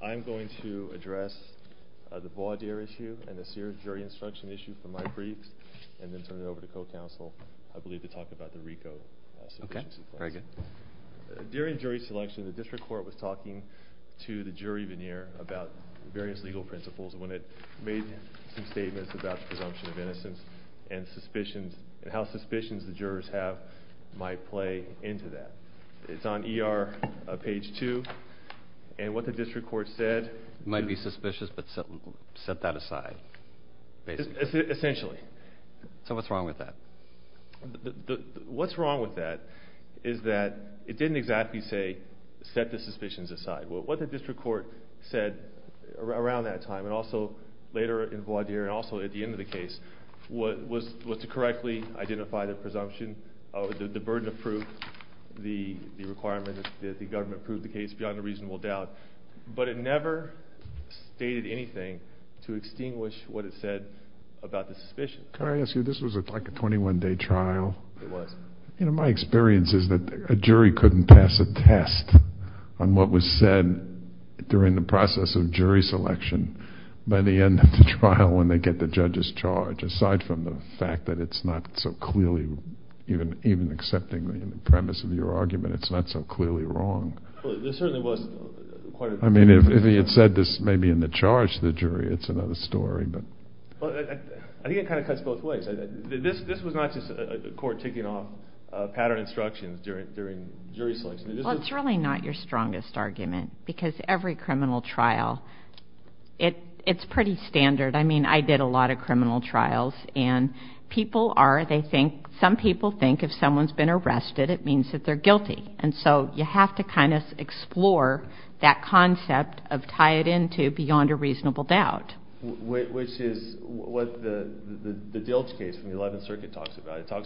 I'm going to address the voir dire issue and the jury instruction issue from my briefs and then turn it over to co-counsel, I believe, to talk about the RICO submission. During jury selection, the district court was talking to the jury veneer about various legal principles and when it made some statements about the presumption of innocence and how suspicions the jurors have might play into that. It's on ER page 2 and what the district court said... It might be suspicious, but set that aside. Essentially. So what's wrong with that? What's wrong with that is that it didn't exactly say set the suspicions aside. Also, at the end of the case, was to correctly identify the presumption, the burden of proof, the requirement that the government prove the case beyond a reasonable doubt. But it never stated anything to extinguish what it said about the suspicion. Can I ask you, this was like a 21 day trial. It was. My experience is that a jury couldn't pass a test on what was said during the process of jury selection by the end of the trial when they get the judge's charge. Aside from the fact that it's not so clearly, even accepting the premise of your argument, it's not so clearly wrong. There certainly was quite a... I mean, if he had said this maybe in the charge to the jury, it's another story. I think it kind of cuts both ways. This was not just a court taking off pattern instructions during jury selection. Well, it's really not your strongest argument because every criminal trial, it's pretty standard. I mean, I did a lot of criminal trials, and people are, they think, some people think if someone's been arrested, it means that they're guilty. And so you have to kind of explore that concept of tie it in to beyond a reasonable doubt. Which is what the Dilch case from the 11th Circuit talks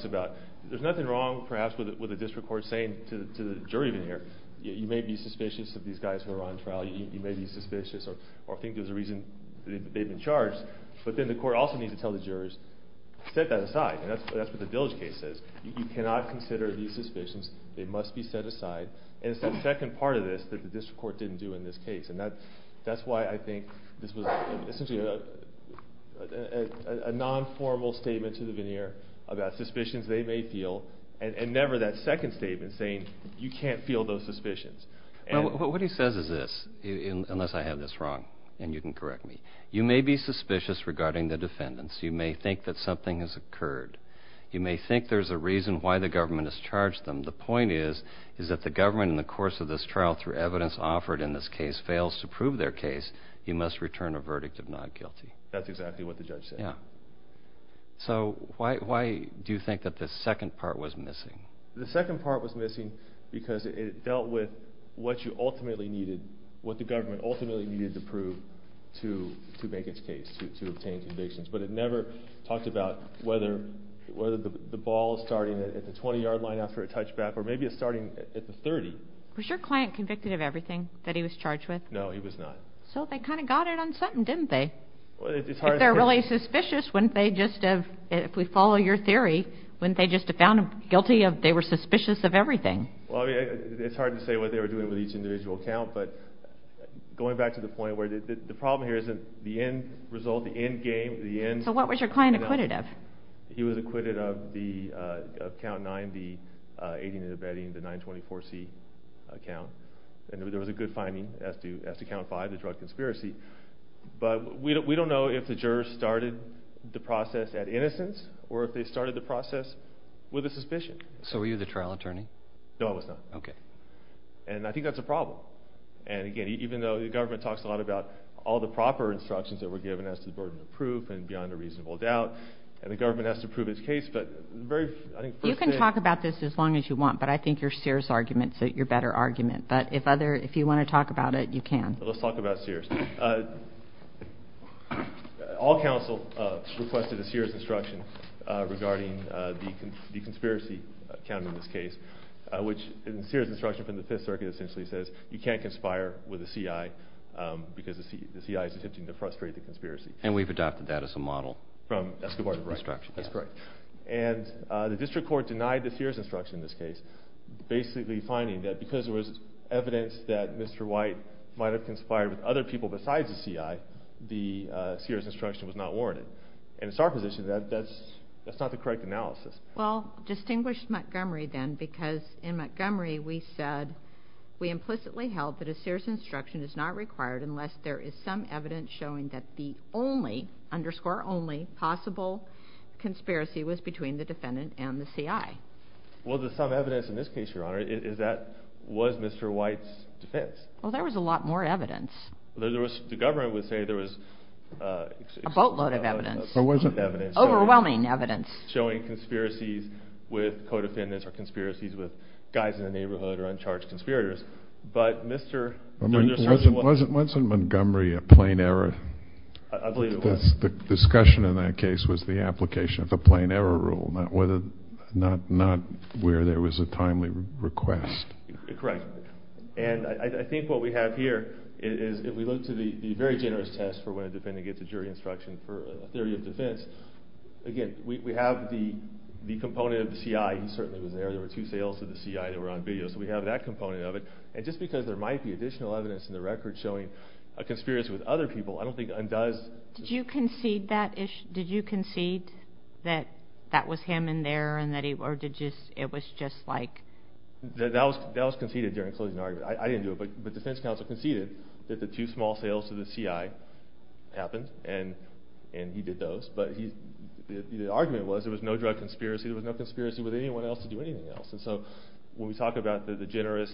about. There's nothing wrong, perhaps, with the district court saying to the jury veneer, you may be suspicious of these guys who are on trial. You may be suspicious or think there's a reason they've been charged. But then the court also needs to tell the jurors, set that aside. And that's what the Dilch case says. You cannot consider these suspicions. They must be set aside. And it's the second part of this that the district court didn't do in this case. And that's why I think this was essentially a non-formal statement to the veneer about suspicions they may feel. And never that second statement saying you can't feel those suspicions. Well, what he says is this, unless I have this wrong, and you can correct me. You may be suspicious regarding the defendants. You may think that something has occurred. You may think there's a reason why the government has charged them. The point is that the government, in the course of this trial, through evidence offered in this case, fails to prove their case. You must return a verdict of not guilty. That's exactly what the judge said. Yeah. So why do you think that the second part was missing? The second part was missing because it dealt with what you ultimately needed, what the government ultimately needed to prove to make its case, to obtain convictions. But it never talked about whether the ball is starting at the 20-yard line after a touchback or maybe it's starting at the 30. Was your client convicted of everything that he was charged with? No, he was not. So they kind of got it on something, didn't they? Well, it's hard to say. If they're really suspicious, wouldn't they just have, if we follow your theory, wouldn't they just have found them guilty if they were suspicious of everything? Well, I mean, it's hard to say what they were doing with each individual count. But going back to the point where the problem here isn't the end result, the end game. So what was your client acquitted of? He was acquitted of count 9, the 18 to the bedding, the 924C count. And there was a good finding as to count 5, the drug conspiracy. But we don't know if the jurors started the process at innocence or if they started the process with a suspicion. So were you the trial attorney? No, I was not. Okay. And I think that's a problem. And, again, even though the government talks a lot about all the proper instructions that were given as to the burden of proof and beyond a reasonable doubt, and the government has to prove its case, but the very first thing... You can talk about this as long as you want, but I think your Sears argument is your better argument. But if you want to talk about it, you can. Let's talk about Sears. All counsel requested a Sears instruction regarding the conspiracy count in this case. Which in the Sears instruction from the Fifth Circuit essentially says you can't conspire with a CI because the CI is attempting to frustrate the conspiracy. And we've adopted that as a model. That's correct. And the district court denied the Sears instruction in this case, basically finding that because there was evidence that Mr. White might have conspired with other people besides the CI, the Sears instruction was not warranted. And it's our position that that's not the correct analysis. Well, distinguish Montgomery then because in Montgomery we said we implicitly held that a Sears instruction is not required unless there is some evidence showing that the only, underscore only, possible conspiracy was between the defendant and the CI. Well, the evidence in this case, Your Honor, is that was Mr. White's defense. Well, there was a lot more evidence. The government would say there was... A boatload of evidence. Overwhelming evidence. Showing conspiracies with co-defendants or conspiracies with guys in the neighborhood or uncharged conspirators. But, Mr. Wasn't Montgomery a plain error? I believe it was. The discussion in that case was the application of the plain error rule, not where there was a timely request. Correct. And I think what we have here is if we look to the very generous test for when a defendant gets a jury instruction for a theory of defense, again, we have the component of the CI. He certainly was there. There were two sales to the CI that were on video. So, we have that component of it. And just because there might be additional evidence in the record showing a conspiracy with other people, I don't think undoes... Did you concede that issue? Did you concede that that was him in there and that it was just like... That was conceded during a closing argument. I didn't do it, but defense counsel conceded that the two small sales to the CI happened and he did those. But the argument was there was no drug conspiracy. There was no conspiracy with anyone else to do anything else. And so, when we talk about the generous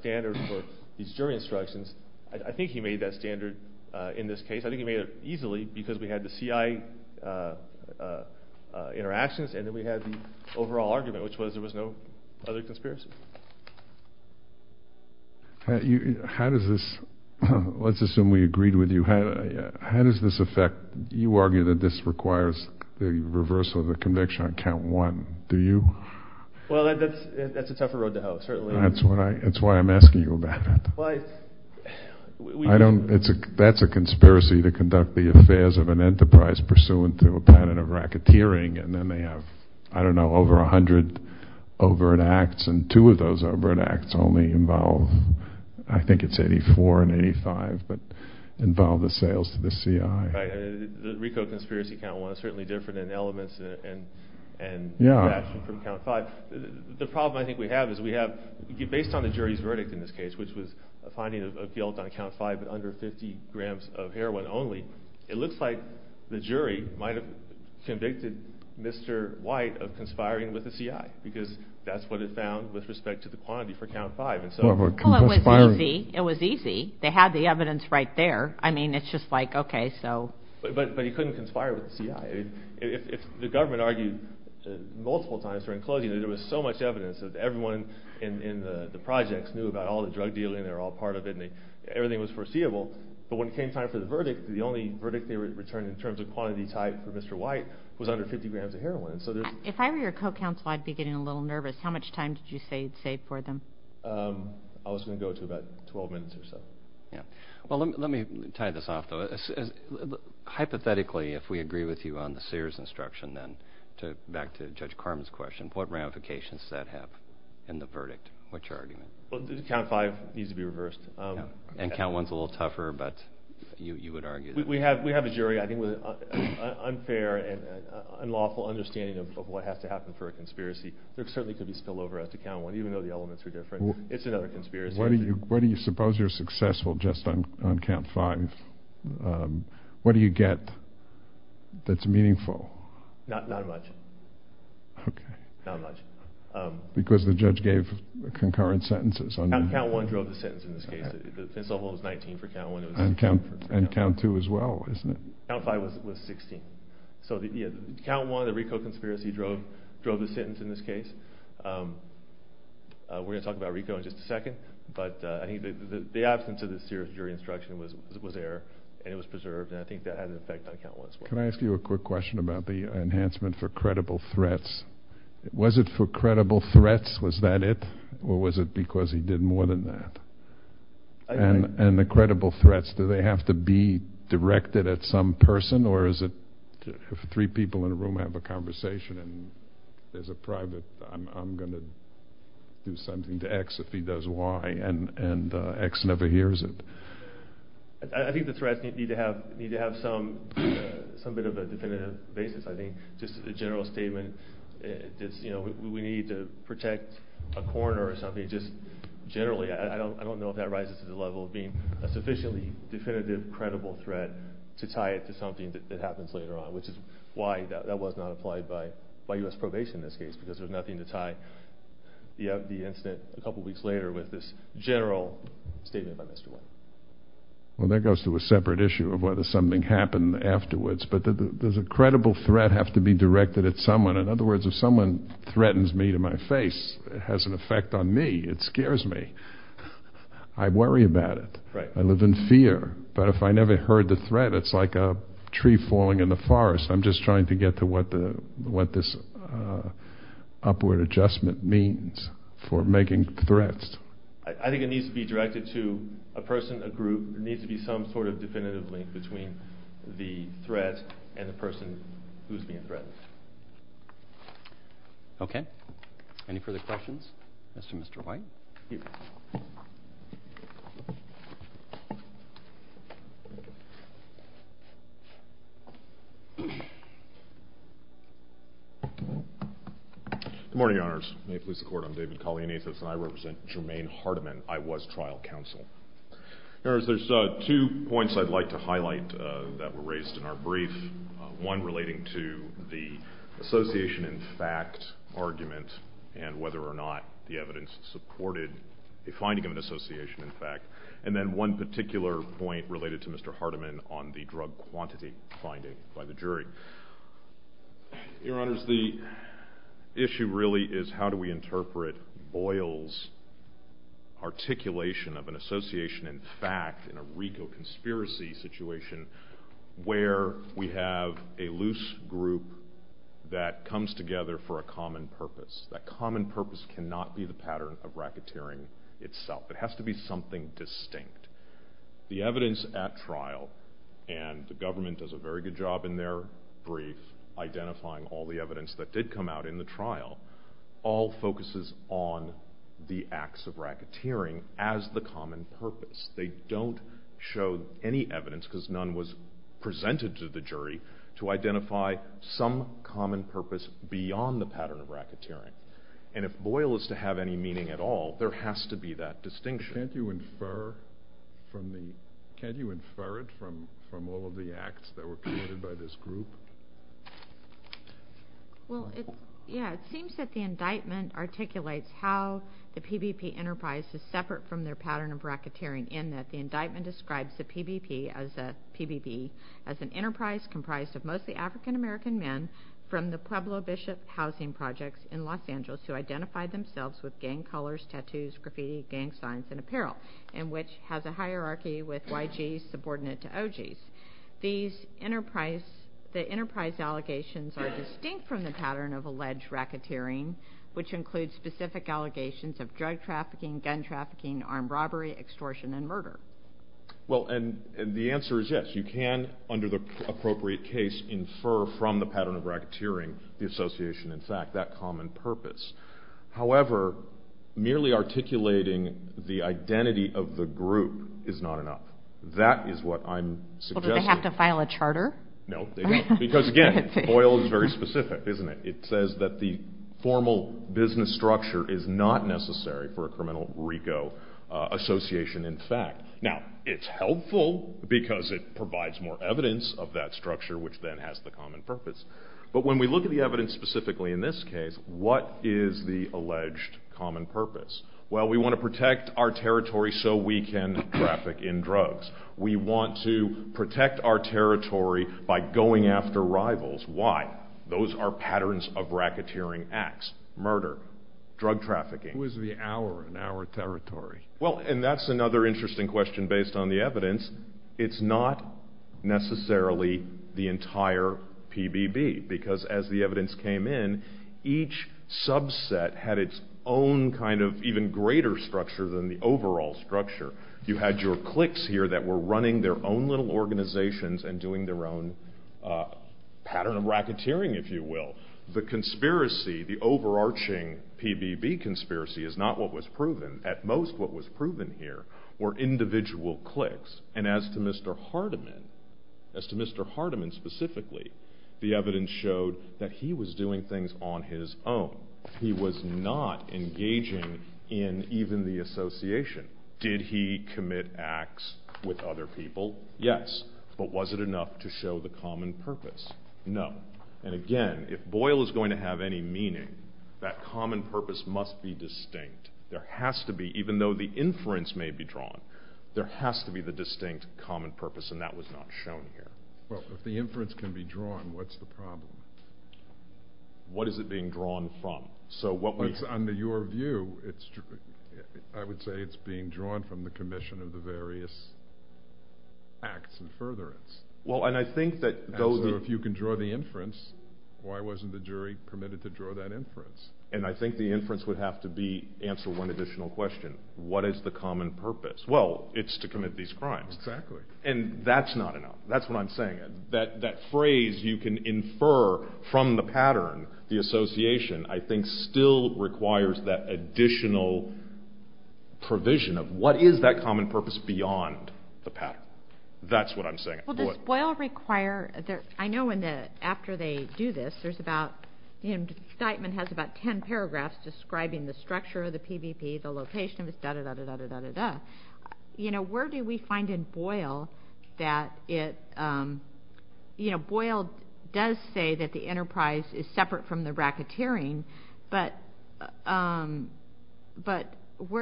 standard for these jury instructions, I think he made that standard in this case. I think he made it easily because we had the CI interactions and then we had the overall argument, which was there was no other conspiracy. How does this... Let's assume we agreed with you. How does this affect... You argue that this requires the reversal of the conviction on count one, do you? Well, that's a tougher road to hoe, certainly. That's why I'm asking you about it. Well, I... I don't... That's a conspiracy to conduct the affairs of an enterprise pursuant to a pattern of racketeering. And then they have, I don't know, over 100 overt acts. And two of those overt acts only involve, I think it's 84 and 85, but involve the sales to the CI. Right. The RICO conspiracy count one is certainly different in elements and... Yeah. ...from count five. The problem I think we have is we have, based on the jury's verdict in this case, which was a finding of guilt on count five, but under 50 grams of heroin only, it looks like the jury might have convicted Mr. White of conspiring with the CI because that's what it found with respect to the quantity for count five. Well, it was easy. It was easy. They had the evidence right there. I mean, it's just like, okay, so... But he couldn't conspire with the CI. If the government argued multiple times during closing that there was so much evidence that everyone in the projects knew about all the drug dealing, they were all part of it, and everything was foreseeable. But when it came time for the verdict, the only verdict they returned in terms of quantity type for Mr. White was under 50 grams of heroin. So there's... If I were your co-counsel, I'd be getting a little nervous. How much time did you say you'd save for them? I was going to go to about 12 minutes or so. Yeah. Well, let me tie this off, though. Hypothetically, if we agree with you on the Sears instruction then, back to Judge Carman's question, what ramifications does that have in the verdict? What's your argument? Well, Count 5 needs to be reversed. And Count 1's a little tougher, but you would argue that... We have a jury, I think, with an unfair and unlawful understanding of what has to happen for a conspiracy. There certainly could be spillover after Count 1, even though the elements are different. It's another conspiracy. What do you suppose you're successful just on Count 5? What do you get that's meaningful? Not much. Okay. Not much. Because the judge gave concurrent sentences. Count 1 drove the sentence in this case. The pencil hold was 19 for Count 1. And Count 2 as well, isn't it? Count 5 was 16. So, yeah, Count 1, the RICO conspiracy, drove the sentence in this case. We're going to talk about RICO in just a second, but I think the absence of the Sears jury instruction was there and it was preserved, and I think that had an effect on Count 1 as well. Can I ask you a quick question about the enhancement for credible threats? Was it for credible threats? Was that it, or was it because he did more than that? And the credible threats, do they have to be directed at some person, or is it three people in a room have a conversation and there's a private, I'm going to do something to X if he does Y, and X never hears it? I think the threats need to have some bit of a definitive basis, I think. Just a general statement, you know, we need to protect a coroner or something. Just generally, I don't know if that rises to the level of being a sufficiently definitive, credible threat to tie it to something that happens later on, which is why that was not applied by U.S. Probation in this case, because there's nothing to tie the incident a couple weeks later with this general statement by Mr. White. Well, that goes to a separate issue of whether something happened afterwards, but does a credible threat have to be directed at someone? In other words, if someone threatens me to my face, it has an effect on me. It scares me. I worry about it. I live in fear. But if I never heard the threat, it's like a tree falling in the forest. I'm just trying to get to what this upward adjustment means for making threats. I think it needs to be directed to a person, a group. There needs to be some sort of definitive link between the threat and the person who's being threatened. Okay. Any further questions as to Mr. White? Good morning, Your Honors. May it please the Court, I'm David Kallianathos, and I represent Jermaine Hardiman. I was trial counsel. Your Honors, there's two points I'd like to highlight that were raised in our brief, one relating to the association in fact argument and whether or not the evidence supported the finding of an association in fact, and then one particular point related to Mr. Hardiman on the drug quantity finding by the jury. Your Honors, the issue really is how do we interpret Boyle's articulation of an association in fact in a RICO conspiracy situation where we have a loose group that comes together for a common purpose. That common purpose cannot be the pattern of racketeering itself. It has to be something distinct. The evidence at trial, and the government does a very good job in their brief identifying all the evidence that did come out in the trial, all focuses on the acts of racketeering as the common purpose. They don't show any evidence because none was presented to the jury to identify some common purpose beyond the pattern of racketeering. And if Boyle is to have any meaning at all, there has to be that distinction. Can't you infer it from all of the acts that were committed by this group? Well, it seems that the indictment articulates how the PBP enterprise is separate from their pattern of racketeering in that the indictment describes the PBP as an enterprise comprised of mostly African American men from the Pueblo Bishop housing projects in Los Angeles who identified themselves with gang colors, tattoos, graffiti, gang signs, and apparel, and which has a hierarchy with YGs subordinate to OGs. The enterprise allegations are distinct from the pattern of alleged racketeering, which includes specific allegations of drug trafficking, gun trafficking, armed robbery, extortion, and murder. Well, and the answer is yes. You can, under the appropriate case, infer from the pattern of racketeering the association, in fact, that common purpose. However, merely articulating the identity of the group is not enough. That is what I'm suggesting. Well, do they have to file a charter? No, they don't, because again, Boyle is very specific, isn't it? It says that the formal business structure is not necessary for a criminal RICO association, in fact. Now, it's helpful because it provides more evidence of that structure, which then has the common purpose. But when we look at the evidence specifically in this case, what is the alleged common purpose? Well, we want to protect our territory so we can traffic in drugs. We want to protect our territory by going after rivals. Why? Those are patterns of racketeering acts, murder, drug trafficking. Who is the our in our territory? Well, and that's another interesting question based on the evidence. It's not necessarily the entire PBB, because as the evidence came in, each subset had its own kind of even greater structure than the overall structure. You had your cliques here that were running their own little organizations and doing their own pattern of racketeering, if you will. The conspiracy, the overarching PBB conspiracy is not what was proven. At most, what was proven here were individual cliques. And as to Mr. Hardiman, as to Mr. Hardiman specifically, the evidence showed that he was doing things on his own. He was not engaging in even the association. Did he commit acts with other people? Yes. But was it enough to show the common purpose? No. And again, if Boyle is going to have any meaning, that common purpose must be distinct. There has to be, even though the inference may be drawn, there has to be the distinct common purpose, and that was not shown here. Well, if the inference can be drawn, what's the problem? What is it being drawn from? Under your view, I would say it's being drawn from the commission of the various acts and furtherance. And so if you can draw the inference, why wasn't the jury committed to draw that inference? And I think the inference would have to answer one additional question. What is the common purpose? Well, it's to commit these crimes. And that's not enough. That's what I'm saying. That phrase you can infer from the pattern, the association, I think still requires that additional provision of what is that common purpose beyond the pattern. That's what I'm saying. Well, does Boyle require – I know after they do this, there's about – the indictment has about ten paragraphs describing the structure of the PVP, the location of it, da-da-da-da-da-da-da-da. Where do we find in Boyle that it – Boyle does say that the enterprise is separate from the racketeering, but where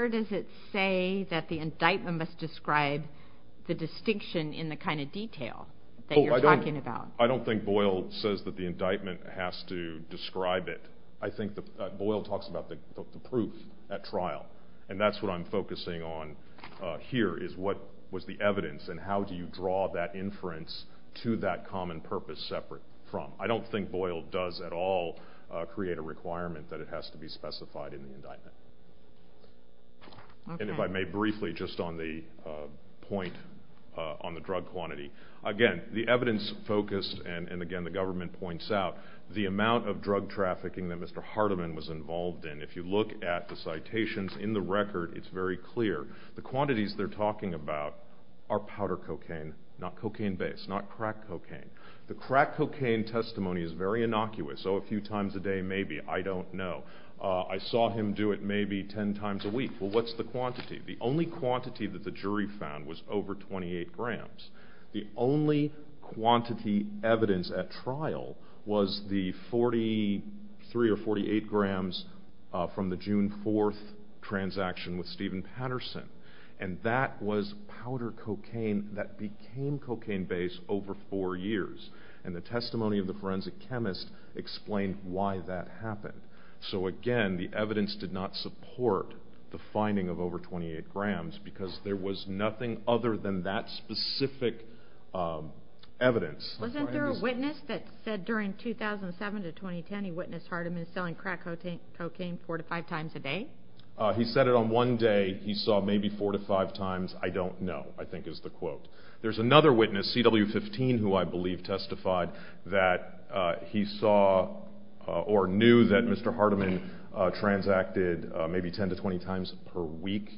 does it say that the indictment must describe the distinction in the kind of detail that you're talking about? I don't think Boyle says that the indictment has to describe it. I think that Boyle talks about the proof at trial, and that's what I'm focusing on here is what was the evidence and how do you draw that inference to that common purpose separate from. I don't think Boyle does at all create a requirement that it has to be specified in the indictment. And if I may briefly just on the point on the drug quantity. Again, the evidence focused, and again the government points out, the amount of drug trafficking that Mr. Hardiman was involved in, if you look at the citations in the record, it's very clear. The quantities they're talking about are powder cocaine, not cocaine-based, not crack cocaine. The crack cocaine testimony is very innocuous. Oh, a few times a day maybe, I don't know. I saw him do it maybe 10 times a week. Well, what's the quantity? The only quantity that the jury found was over 28 grams. The only quantity evidence at trial was the 43 or 48 grams from the June 4th transaction with Steven Patterson. And that was powder cocaine that became cocaine-based over four years. And the testimony of the forensic chemist explained why that happened. So again, the evidence did not support the finding of over 28 grams because there was nothing other than that specific evidence. Wasn't there a witness that said during 2007 to 2010 he witnessed Hardiman selling crack cocaine four to five times a day? He said it on one day. He saw maybe four to five times. I don't know, I think is the quote. There's another witness, CW15, who I believe testified that he saw or knew that Mr. Hardiman transacted maybe 10 to 20 times per week.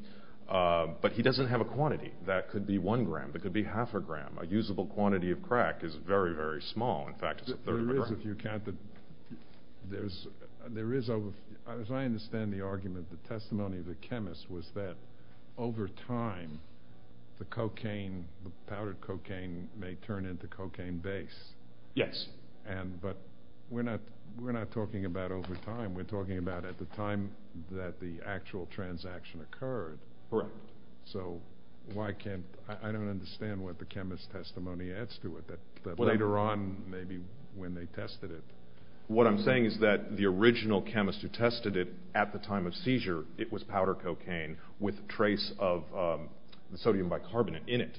But he doesn't have a quantity. That could be one gram. That could be half a gram. A usable quantity of crack is very, very small. In fact, it's a third of a gram. There is, if you count the, there is, as I understand the argument, the testimony of the chemist was that over time the cocaine, the powder cocaine may turn into cocaine-based. Yes. But we're not talking about over time. We're talking about at the time that the actual transaction occurred. Correct. So why can't, I don't understand what the chemist's testimony adds to it, that later on maybe when they tested it. What I'm saying is that the original chemist who tested it at the time of seizure, it was powder cocaine with a trace of sodium bicarbonate in it.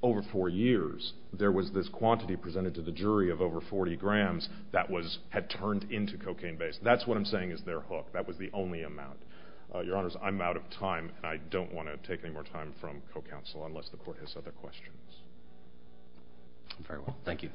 Over four years there was this quantity presented to the jury of over 40 grams that was, had turned into cocaine-based. That's what I'm saying is they're hooked. That was the only amount. Your Honors, I'm out of time, and I don't want to take any more time from co-counsel unless the Court has other questions. Very well. Thank you.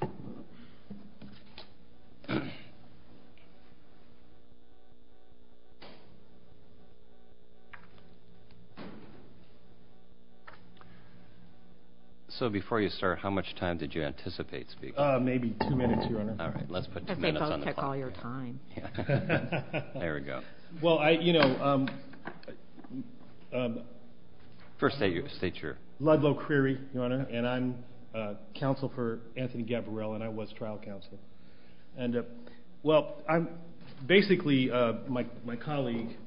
So before you start, how much time did you anticipate speaking? Maybe two minutes, Your Honor. All right. Let's put two minutes on the clock. They both take all your time. There we go. Well, I, you know. First state your. Ludlow Creary, Your Honor, and I'm Counsel for Anthony Gavarelle, and I was trial counsel. And, well, basically my colleague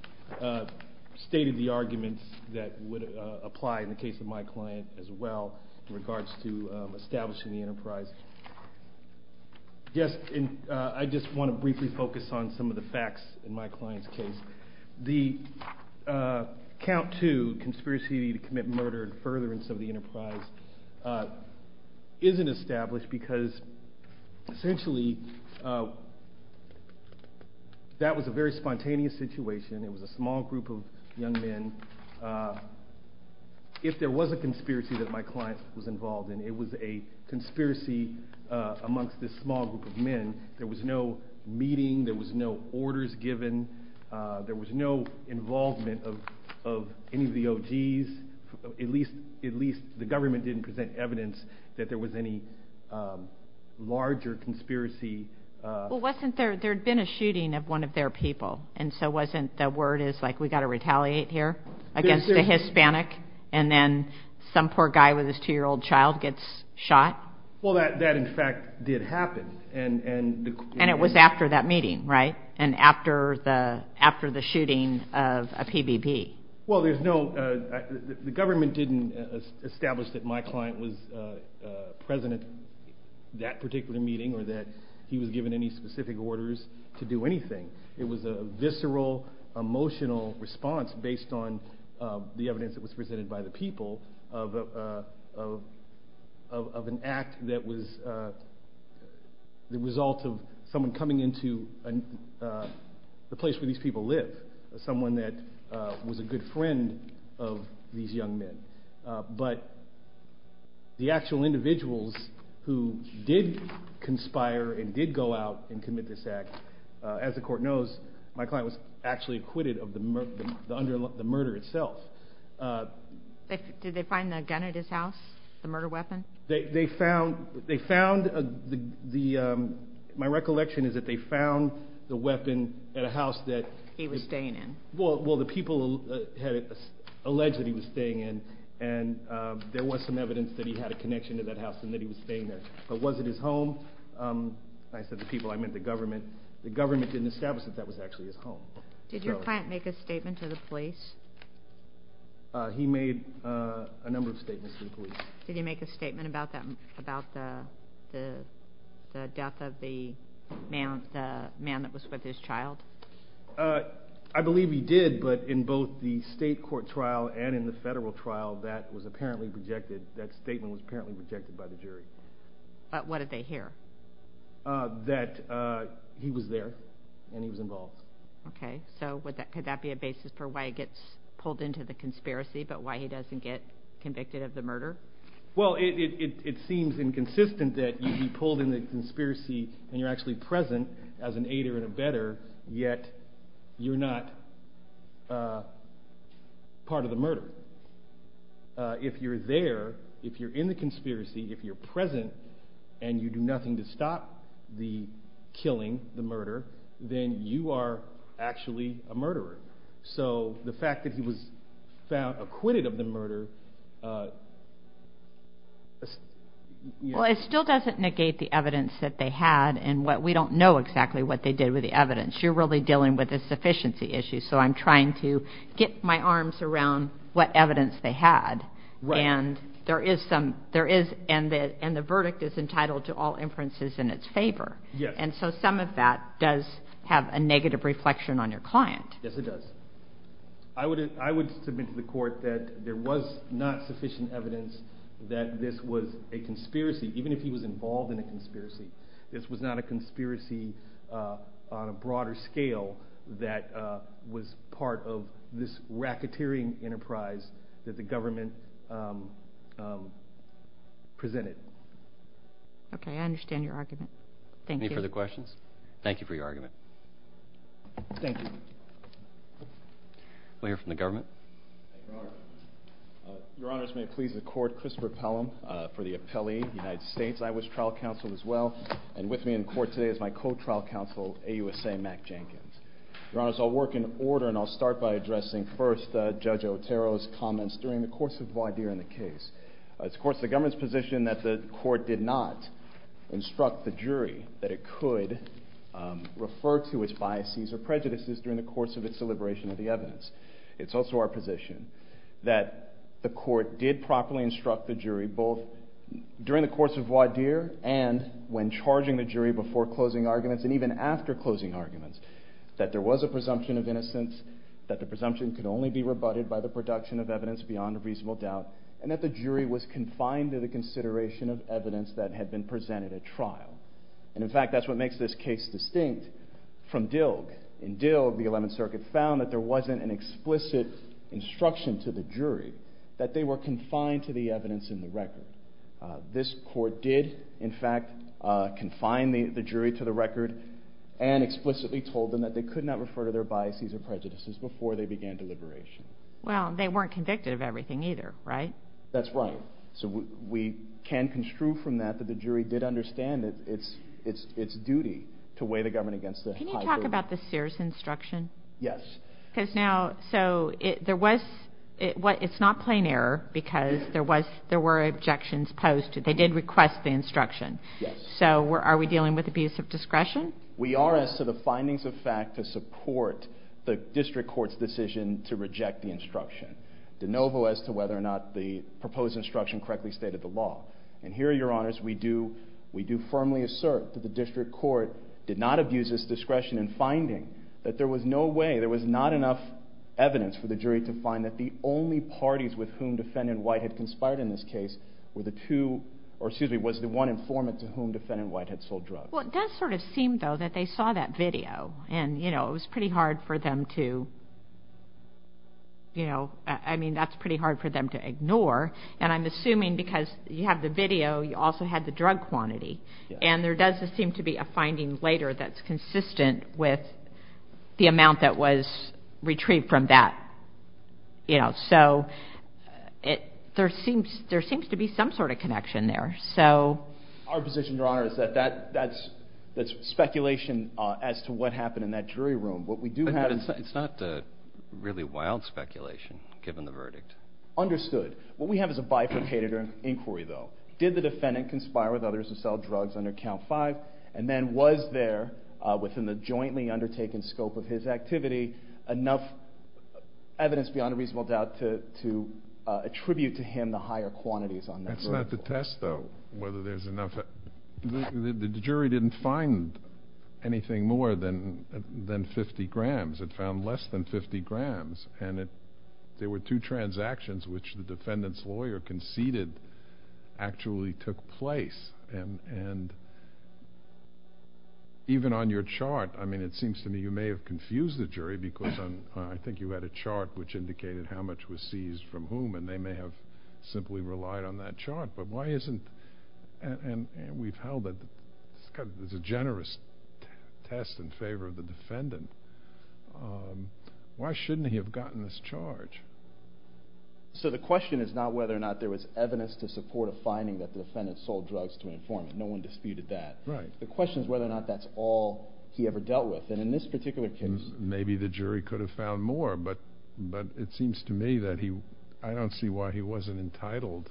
stated the arguments that would apply in the case of my client as well. In regards to establishing the enterprise. Yes, and I just want to briefly focus on some of the facts in my client's case. The Count II conspiracy to commit murder and furtherance of the enterprise isn't established because essentially that was a very spontaneous situation. It was a small group of young men. If there was a conspiracy that my client was involved in, it was a conspiracy amongst this small group of men. There was no meeting. There was no orders given. There was no involvement of any of the OGs. At least the government didn't present evidence that there was any larger conspiracy. Well, wasn't there, there had been a shooting of one of their people, and so wasn't the word is like we've got to retaliate here against a Hispanic, and then some poor guy with his two-year-old child gets shot? Well, that, in fact, did happen. And it was after that meeting, right? And after the shooting of a PBB. Well, there's no, the government didn't establish that my client was present at that particular meeting or that he was given any specific orders to do anything. It was a visceral, emotional response based on the evidence that was presented by the people of an act that was the result of someone coming into the place where these people live, someone that was a good friend of these young men. But the actual individuals who did conspire and did go out and commit this act, as the court knows, my client was actually acquitted of the murder itself. Did they find the gun at his house, the murder weapon? They found, my recollection is that they found the weapon at a house that- He was staying in. Well, the people had alleged that he was staying in, and there was some evidence that he had a connection to that house and that he was staying there. But was it his home? I said the people, I meant the government. The government didn't establish that that was actually his home. Did your client make a statement to the police? He made a number of statements to the police. Did he make a statement about the death of the man that was with his child? I believe he did, but in both the state court trial and in the federal trial, that statement was apparently rejected by the jury. But what did they hear? That he was there and he was involved. Okay, so could that be a basis for why he gets pulled into the conspiracy, but why he doesn't get convicted of the murder? and you're actually present as an aider and abetter, yet you're not part of the murder. If you're there, if you're in the conspiracy, if you're present, and you do nothing to stop the killing, the murder, then you are actually a murderer. So the fact that he was found acquitted of the murder- Well, it still doesn't negate the evidence that they had, and we don't know exactly what they did with the evidence. You're really dealing with a sufficiency issue, so I'm trying to get my arms around what evidence they had, and the verdict is entitled to all inferences in its favor. And so some of that does have a negative reflection on your client. Yes, it does. I would submit to the court that there was not sufficient evidence that this was a conspiracy, even if he was involved in a conspiracy. This was not a conspiracy on a broader scale that was part of this racketeering enterprise that the government presented. Okay, I understand your argument. Thank you. Any further questions? Thank you for your argument. Thank you. We'll hear from the government. Your Honors, may it please the Court, Christopher Pelham for the Appellee United States, I was trial counsel as well, and with me in court today is my co-trial counsel, AUSA Mack Jenkins. Your Honors, I'll work in order, and I'll start by addressing first Judge Otero's comments during the course of voir dire in the case. It's, of course, the government's position that the court did not instruct the jury that it could refer to its biases or prejudices during the course of its deliberation of the evidence. It's also our position that the court did properly instruct the jury both during the course of voir dire and when charging the jury before closing arguments and even after closing arguments that there was a presumption of innocence, that the presumption could only be rebutted by the production of evidence beyond a reasonable doubt, and that the jury was confined to the consideration of evidence that had been presented at trial. And, in fact, that's what makes this case distinct from Dilg. In Dilg, the Eleventh Circuit found that there wasn't an explicit instruction to the jury that they were confined to the evidence in the record. This court did, in fact, confine the jury to the record and explicitly told them that they could not refer to their biases or prejudices before they began deliberation. Well, they weren't convicted of everything either, right? That's right. So we can construe from that that the jury did understand its duty to weigh the government against the high court. Can you talk about the Sears instruction? Yes. It's not plain error because there were objections posed. They did request the instruction. Yes. So are we dealing with abuse of discretion? We are as to the findings of fact to support the district court's decision to reject the instruction, de novo as to whether or not the proposed instruction correctly stated the law. And here, Your Honors, we do firmly assert that the district court did not abuse its discretion in finding that there was no way, there was not enough evidence for the jury to find that the only parties with whom Defendant White had conspired in this case were the two, or excuse me, was the one informant to whom Defendant White had sold drugs. Well, it does sort of seem, though, that they saw that video. And, you know, it was pretty hard for them to, you know, I mean that's pretty hard for them to ignore. And I'm assuming because you have the video, you also had the drug quantity. And there does seem to be a finding later that's consistent with the amount that was retrieved from that. You know, so there seems to be some sort of connection there. Our position, Your Honor, is that that's speculation as to what happened in that jury room. But it's not really wild speculation, given the verdict. Understood. What we have is a bifurcated inquiry, though. Did the defendant conspire with others to sell drugs under Count 5? And then was there, within the jointly undertaken scope of his activity, enough evidence beyond a reasonable doubt to attribute to him the higher quantities on that drug? That's not the test, though, whether there's enough. The jury didn't find anything more than 50 grams. It found less than 50 grams. And there were two transactions which the defendant's lawyer conceded actually took place. And even on your chart, I mean it seems to me you may have confused the jury because I think you had a chart which indicated how much was seized from whom, and they may have simply relied on that chart. But why isn't—and we've held it. It's a generous test in favor of the defendant. Why shouldn't he have gotten this charge? So the question is not whether or not there was evidence to support a finding that the defendant sold drugs to an informant. No one disputed that. Right. The question is whether or not that's all he ever dealt with. And in this particular case— Maybe the jury could have found more, but it seems to me that he— I don't see why he wasn't entitled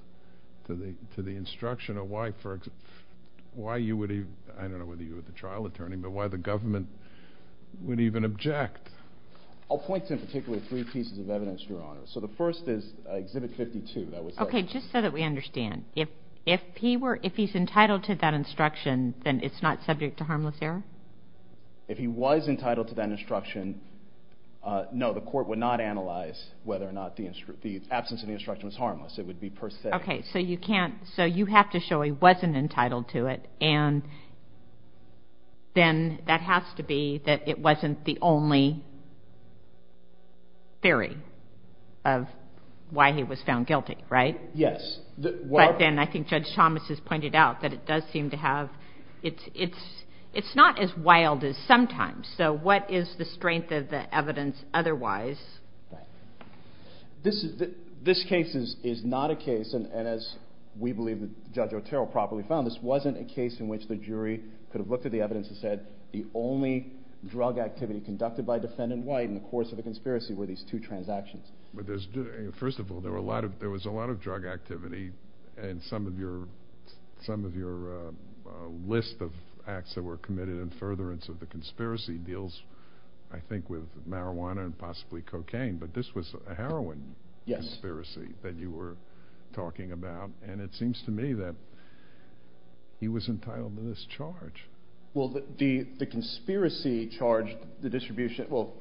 to the instruction of why you would even— I don't know whether you were the trial attorney, but why the government would even object. I'll point to in particular three pieces of evidence, Your Honor. So the first is Exhibit 52. Okay, just so that we understand. If he's entitled to that instruction, then it's not subject to harmless error? If he was entitled to that instruction, no, the court would not analyze whether or not the absence of the instruction was harmless. It would be per se. Okay, so you can't—so you have to show he wasn't entitled to it, and then that has to be that it wasn't the only theory of why he was found guilty, right? Yes. But then I think Judge Thomas has pointed out that it does seem to have— it's not as wild as sometimes. So what is the strength of the evidence otherwise? This case is not a case, and as we believe Judge Otero probably found, this wasn't a case in which the jury could have looked at the evidence and said the only drug activity conducted by Defendant White in the course of a conspiracy were these two transactions. First of all, there was a lot of drug activity, and some of your list of acts that were committed in furtherance of the conspiracy deals, I think, with marijuana and possibly cocaine, but this was a heroin conspiracy that you were talking about. And it seems to me that he was entitled to this charge. Well, the conspiracy charged the distribution— well,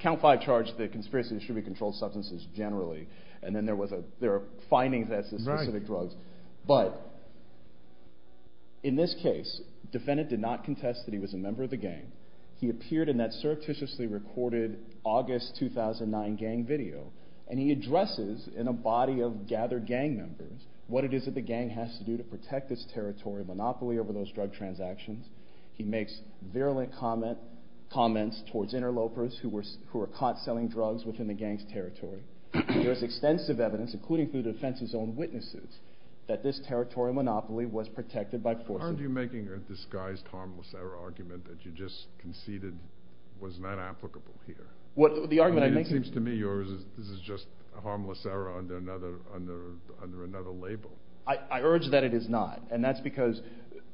Count Five charged the conspiracy to distribute controlled substances generally, and then there are findings that it's specific drugs. But in this case, Defendant did not contest that he was a member of the gang. He appeared in that surreptitiously recorded August 2009 gang video, and he addresses in a body of gathered gang members what it is that the gang has to do to protect this territory monopoly over those drug transactions. He makes virulent comments towards interlopers who are caught selling drugs within the gang's territory. There is extensive evidence, including through the defense's own witnesses, that this territory monopoly was protected by force of— Aren't you making a disguised harmless error argument that you just conceded was not applicable here? It seems to me yours is this is just a harmless error under another label. I urge that it is not, and that's because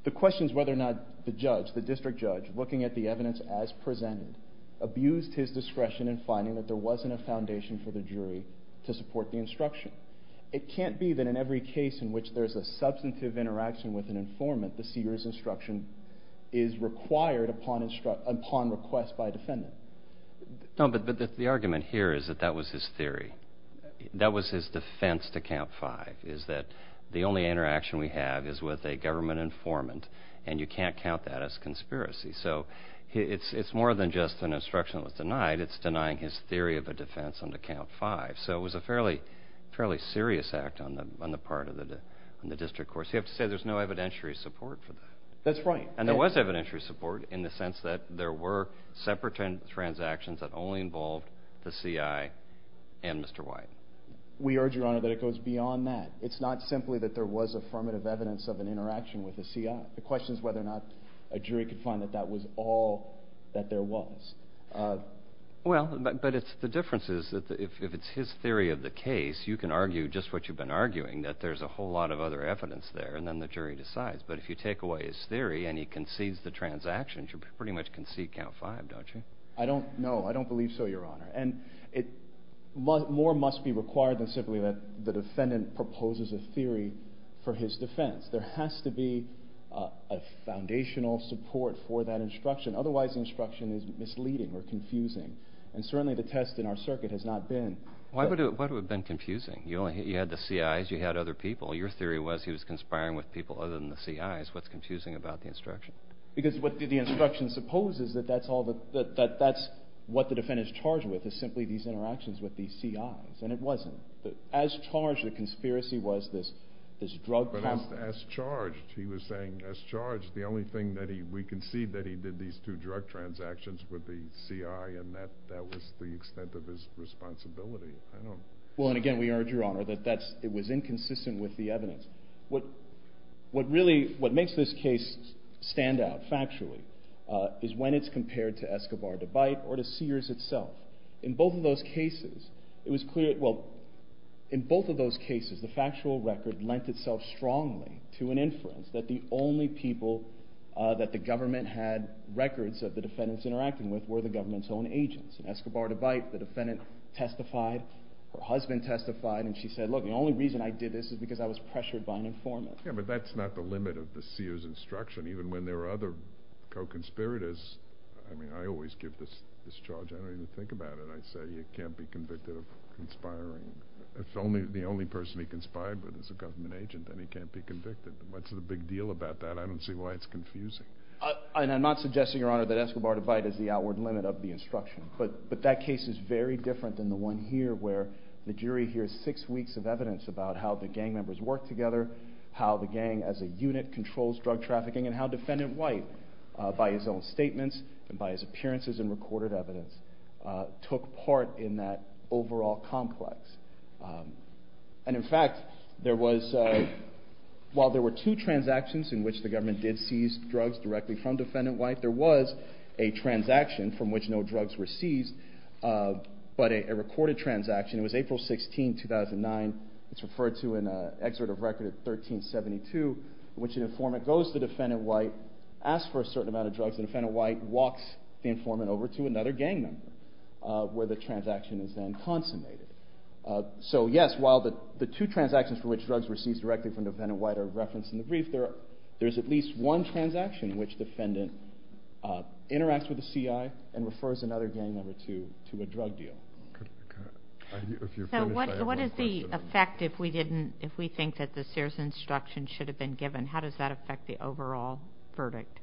the question is whether or not the judge, the district judge, looking at the evidence as presented, abused his discretion in finding that there wasn't a foundation for the jury to support the instruction. It can't be that in every case in which there's a substantive interaction with an informant, the seer's instruction is required upon request by a defendant. No, but the argument here is that that was his theory. That was his defense to count five is that the only interaction we have is with a government informant, and you can't count that as conspiracy. So it's more than just an instruction that was denied. It's denying his theory of a defense on to count five. So it was a fairly serious act on the part of the district court. So you have to say there's no evidentiary support for that. That's right. And there was evidentiary support in the sense that there were separate transactions that only involved the C.I. and Mr. White. We urge, Your Honor, that it goes beyond that. It's not simply that there was affirmative evidence of an interaction with the C.I. The question is whether or not a jury could find that that was all that there was. Well, but the difference is that if it's his theory of the case, you can argue just what you've been arguing, that there's a whole lot of other evidence there, and then the jury decides. But if you take away his theory and he concedes the transactions, you pretty much concede count five, don't you? I don't know. I don't believe so, Your Honor. And more must be required than simply that the defendant proposes a theory for his defense. There has to be a foundational support for that instruction. Otherwise, instruction is misleading or confusing. And certainly the test in our circuit has not been. Why would it have been confusing? You had the C.I.s. You had other people. Your theory was he was conspiring with people other than the C.I.s. What's confusing about the instruction? Because what the instruction supposes is that that's what the defendant is charged with, is simply these interactions with the C.I.s. And it wasn't. As charged, the conspiracy was this drug company. But as charged, he was saying as charged, the only thing that we concede that he did these two drug transactions with the C.I. and that was the extent of his responsibility. Well, and again, we urge, Your Honor, that it was inconsistent with the evidence. What really makes this case stand out factually is when it's compared to Escobar-DeBite or to Sears itself. In both of those cases, it was clear that the factual record lent itself strongly to an inference that the only people that the government had records of the defendants interacting with were the government's own agents. So Escobar-DeBite, the defendant testified, her husband testified, and she said, look, the only reason I did this is because I was pressured by an informant. Yeah, but that's not the limit of the Sears instruction. Even when there are other co-conspirators, I mean, I always give this charge. I don't even think about it. I say you can't be convicted of conspiring. If the only person he conspired with is a government agent, then he can't be convicted. What's the big deal about that? I don't see why it's confusing. I'm not suggesting, Your Honor, that Escobar-DeBite is the outward limit of the instruction, but that case is very different than the one here where the jury hears six weeks of evidence about how the gang members work together, how the gang as a unit controls drug trafficking, and how Defendant White, by his own statements and by his appearances and recorded evidence, took part in that overall complex. And in fact, while there were two transactions in which the government did seize drugs directly from Defendant White, there was a transaction from which no drugs were seized, but a recorded transaction. It was April 16, 2009. It's referred to in an excerpt of record of 1372 in which an informant goes to Defendant White, asks for a certain amount of drugs, and Defendant White walks the informant over to another gang member where the transaction is then consummated. So, yes, while the two transactions for which drugs were seized directly from Defendant White are referenced in the brief, there's at least one transaction in which Defendant interacts with a CI and refers another gang member to a drug deal. So what is the effect if we think that the Sears instruction should have been given? How does that affect the overall verdict?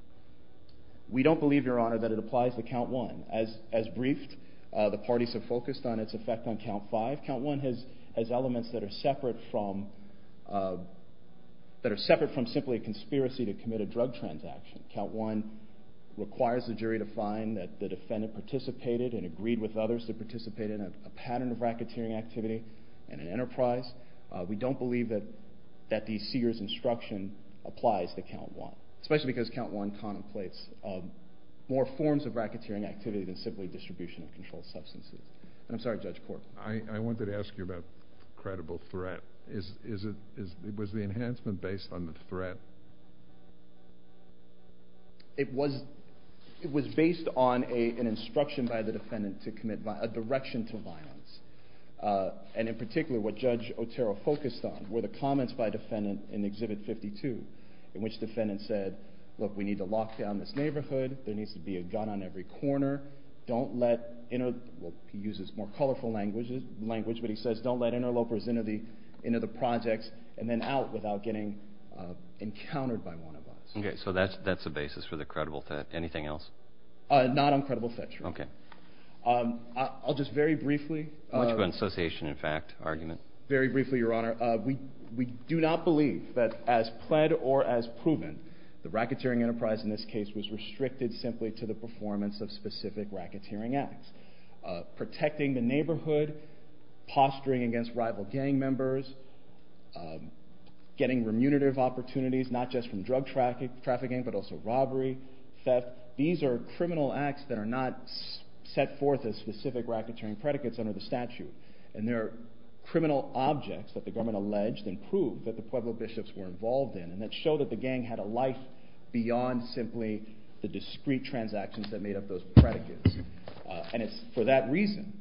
We don't believe, Your Honor, that it applies to count one. As briefed, the parties have focused on its effect on count five. Count one has elements that are separate from simply a conspiracy to commit a drug transaction. Count one requires the jury to find that the defendant participated and agreed with others to participate in a pattern of racketeering activity in an enterprise. We don't believe that the Sears instruction applies to count one, especially because count one contemplates more forms of racketeering activity than simply distribution of controlled substances. And I'm sorry, Judge Portman. I wanted to ask you about credible threat. Was the enhancement based on the threat? It was based on an instruction by the defendant to commit a direction to violence, and in particular what Judge Otero focused on were the comments by Defendant in Exhibit 52 in which the defendant said, look, we need to lock down this neighborhood. There needs to be a gun on every corner. Don't let, well, he uses more colorful language, but he says don't let interlopers into the projects and then out without getting encountered by one of us. Okay, so that's the basis for the credible threat. Anything else? Not on credible threat, Your Honor. Okay. I'll just very briefly. Much of an association in fact argument. Very briefly, Your Honor. We do not believe that as pled or as proven the racketeering enterprise in this case was restricted simply to the performance of specific racketeering acts, protecting the neighborhood, posturing against rival gang members, getting remunerative opportunities not just from drug trafficking but also robbery, theft. These are criminal acts that are not set forth as specific racketeering predicates under the statute, and they're criminal objects that the government alleged and proved that the Pueblo bishops were involved in and that showed that the gang had a life beyond simply the discrete transactions that made up those predicates. And it's for that reason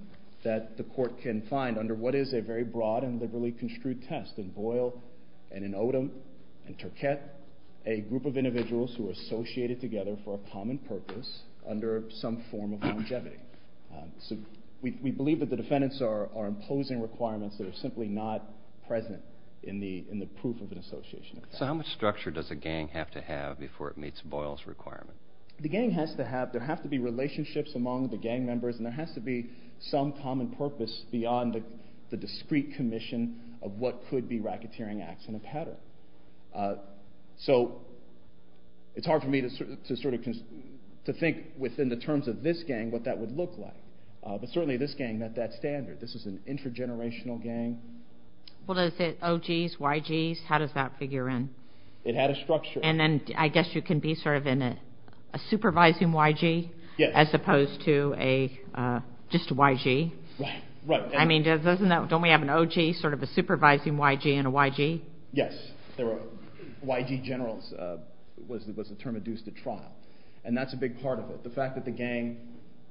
that the court can find under what is a very broad and liberally construed test in Boyle and in Odom and Turquette a group of individuals who are associated together for a common purpose under some form of longevity. So we believe that the defendants are imposing requirements that are simply not present in the proof of an association. So how much structure does a gang have to have before it meets Boyle's requirement? The gang has to have, there have to be relationships among the gang members and there has to be some common purpose beyond the discrete commission of what could be racketeering acts in a pattern. So it's hard for me to think within the terms of this gang what that would look like. But certainly this gang met that standard. This is an intergenerational gang. Well is it OGs, YGs? How does that figure in? It had a structure. And then I guess you can be sort of in a supervising YG as opposed to just a YG. Right. I mean, don't we have an OG, sort of a supervising YG and a YG? Yes. YG Generals was the term induced at trial. And that's a big part of it. The fact that the gang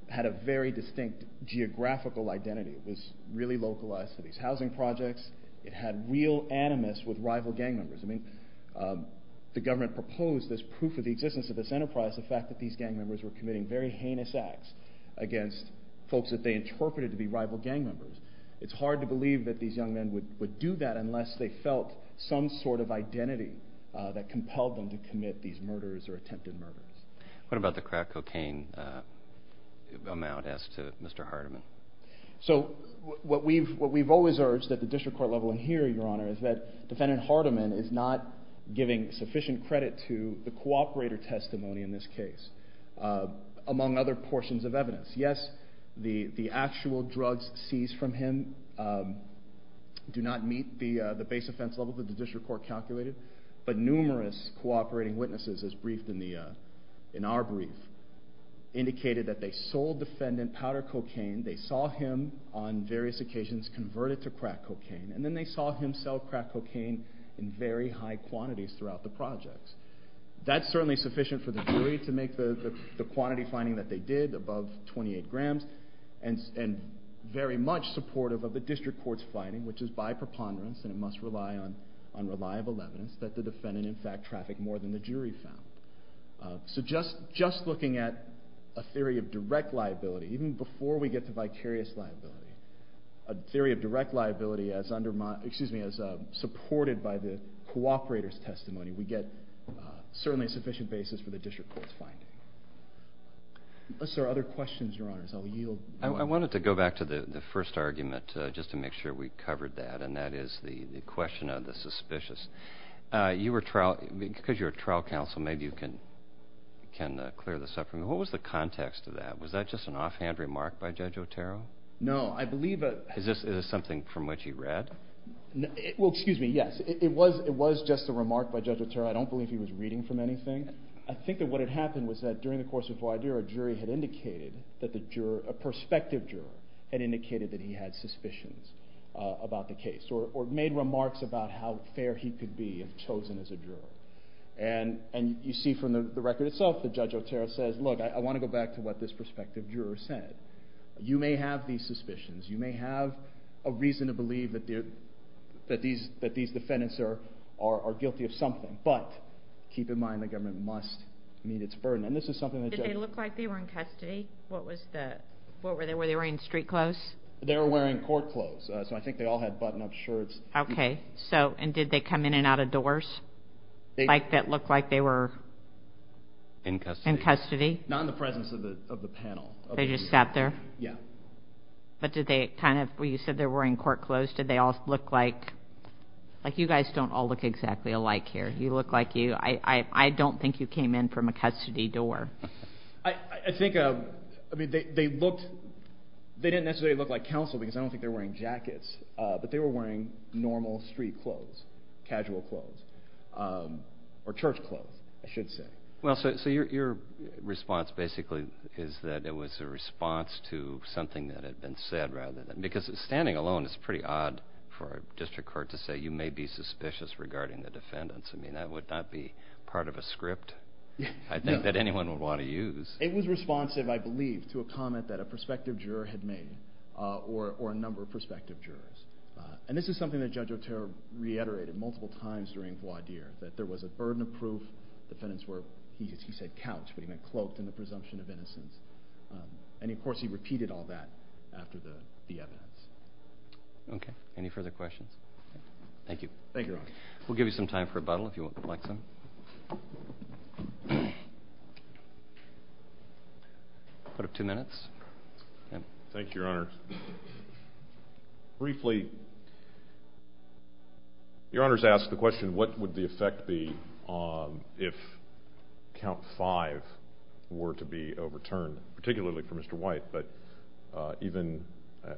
had a very distinct geographical identity. It was really localized to these housing projects. It had real animus with rival gang members. I mean, the government proposed this proof of the existence of this enterprise, the fact that these gang members were committing very heinous acts against folks that they interpreted to be rival gang members. It's hard to believe that these young men would do that unless they felt some sort of identity that compelled them to commit these murders or attempted murders. What about the crack cocaine amount asked to Mr. Hardiman? So what we've always urged at the district court level and here, Your Honor, is that Defendant Hardiman is not giving sufficient credit to the cooperator testimony in this case, among other portions of evidence. Yes, the actual drugs seized from him do not meet the base offense level that the district court calculated, but numerous cooperating witnesses, as briefed in our brief, indicated that they sold Defendant powder cocaine, they saw him on various occasions converted to crack cocaine, and then they saw him sell crack cocaine in very high quantities throughout the projects. That's certainly sufficient for the jury to make the quantity finding that they did above 28 grams and very much supportive of the district court's finding, which is by preponderance, and it must rely on reliable evidence, that the defendant in fact trafficked more than the jury found. So just looking at a theory of direct liability, even before we get to vicarious liability, a theory of direct liability as supported by the cooperator's testimony, we get certainly a sufficient basis for the district court's finding. Unless there are other questions, Your Honors, I will yield. I wanted to go back to the first argument, just to make sure we covered that, and that is the question of the suspicious. You were trial, because you're a trial counsel, maybe you can clear this up for me. What was the context of that? Was that just an offhand remark by Judge Otero? No, I believe that... Is this something from which he read? Well, excuse me, yes. It was just a remark by Judge Otero. I don't believe he was reading from anything. I think that what had happened was that during the course of a jury, a perspective juror had indicated that he had suspicions about the case or made remarks about how fair he could be if chosen as a juror. And you see from the record itself that Judge Otero says, look, I want to go back to what this perspective juror said. You may have these suspicions. You may have a reason to believe that these defendants are guilty of something, but keep in mind the government must meet its burden. Did they look like they were in custody? Were they wearing street clothes? They were wearing court clothes, so I think they all had button-up shirts. Okay, and did they come in and out of doors that looked like they were in custody? Not in the presence of the panel. They just sat there? Yeah. But did they kind of—you said they were wearing court clothes. Did they all look like—like you guys don't all look exactly alike here. You look like you—I don't think you came in from a custody door. I think—I mean, they looked—they didn't necessarily look like counsel because I don't think they were wearing jackets, but they were wearing normal street clothes, casual clothes, or church clothes, I should say. Well, so your response basically is that it was a response to something that had been said rather than— because standing alone, it's pretty odd for a district court to say, you may be suspicious regarding the defendants. I mean, that would not be part of a script I think that anyone would want to use. It was responsive, I believe, to a comment that a prospective juror had made or a number of prospective jurors, and this is something that Judge Otero reiterated multiple times during voir dire, that there was a burden of proof. The defendants were, he said, couched, but he meant cloaked in the presumption of innocence. And, of course, he repeated all that after the evidence. Okay. Any further questions? Thank you. Thank you, Your Honor. We'll give you some time for rebuttal if you would like some. We'll put up two minutes. Thank you, Your Honor. Briefly, Your Honor's asked the question, what would the effect be if count five were to be overturned, particularly for Mr. White, but even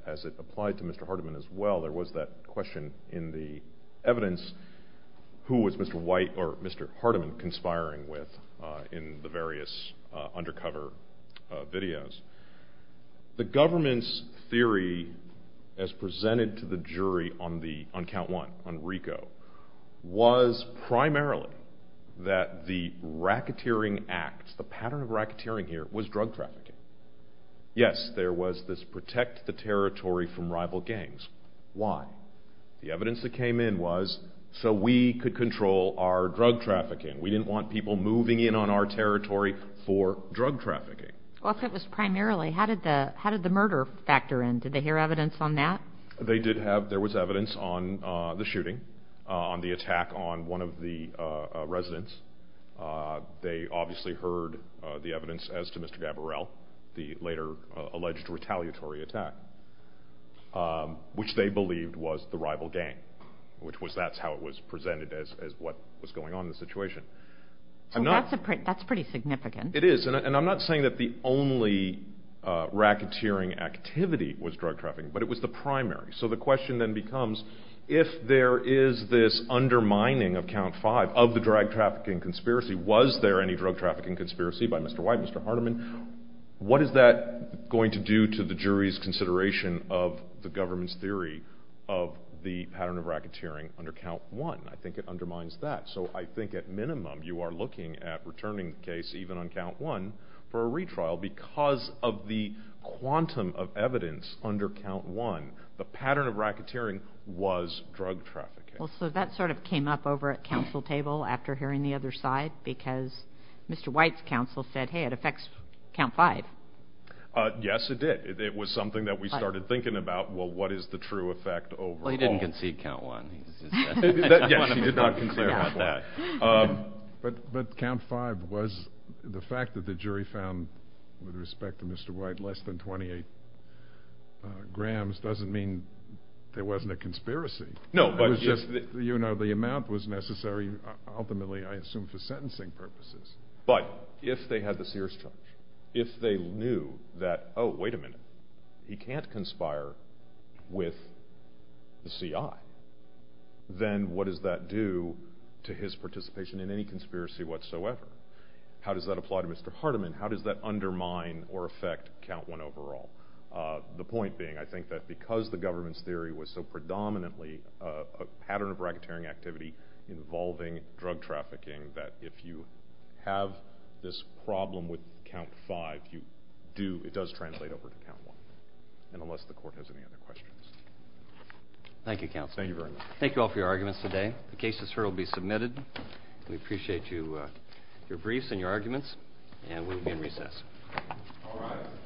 as it applied to Mr. Hardiman as well, there was that question in the evidence, who was Mr. White or Mr. Hardiman conspiring with in the various undercover videos. The government's theory as presented to the jury on count one, on Rico, was primarily that the racketeering act, the pattern of racketeering here, was drug trafficking. Yes, there was this protect the territory from rival gangs. Why? The evidence that came in was so we could control our drug trafficking. We didn't want people moving in on our territory for drug trafficking. If it was primarily, how did the murder factor in? Did they hear evidence on that? There was evidence on the shooting, on the attack on one of the residents. They obviously heard the evidence as to Mr. Gaborel, the later alleged retaliatory attack, which they believed was the rival gang, which that's how it was presented as what was going on in the situation. That's pretty significant. It is, and I'm not saying that the only racketeering activity was drug trafficking, but it was the primary, so the question then becomes, if there is this undermining of count five of the drug trafficking conspiracy, was there any drug trafficking conspiracy by Mr. White, Mr. Hardiman, what is that going to do to the jury's consideration of the government's theory of the pattern of racketeering under count one? I think it undermines that. I think at minimum you are looking at returning the case even on count one for a retrial because of the quantum of evidence under count one. The pattern of racketeering was drug trafficking. That sort of came up over at counsel table after hearing the other side because Mr. White's counsel said, hey, it affects count five. Yes, it did. It was something that we started thinking about. Well, what is the true effect over all? He didn't concede count one. Yes, he did not concede count one. But count five was the fact that the jury found, with respect to Mr. White, less than 28 grams doesn't mean there wasn't a conspiracy. It was just the amount was necessary ultimately, I assume, for sentencing purposes. But if they had the Sears charge, if they knew that, oh, wait a minute, he can't conspire with the CI, then what does that do to his participation in any conspiracy whatsoever? How does that apply to Mr. Hardiman? How does that undermine or affect count one overall? The point being, I think that because the government's theory was so predominantly a pattern of racketeering activity involving drug trafficking that if you have this problem with count five, it does translate over to count one, unless the court has any other questions. Thank you, Counselor. Thank you very much. Thank you all for your arguments today. The cases heard will be submitted. We appreciate your briefs and your arguments, and we'll be in recess. All right.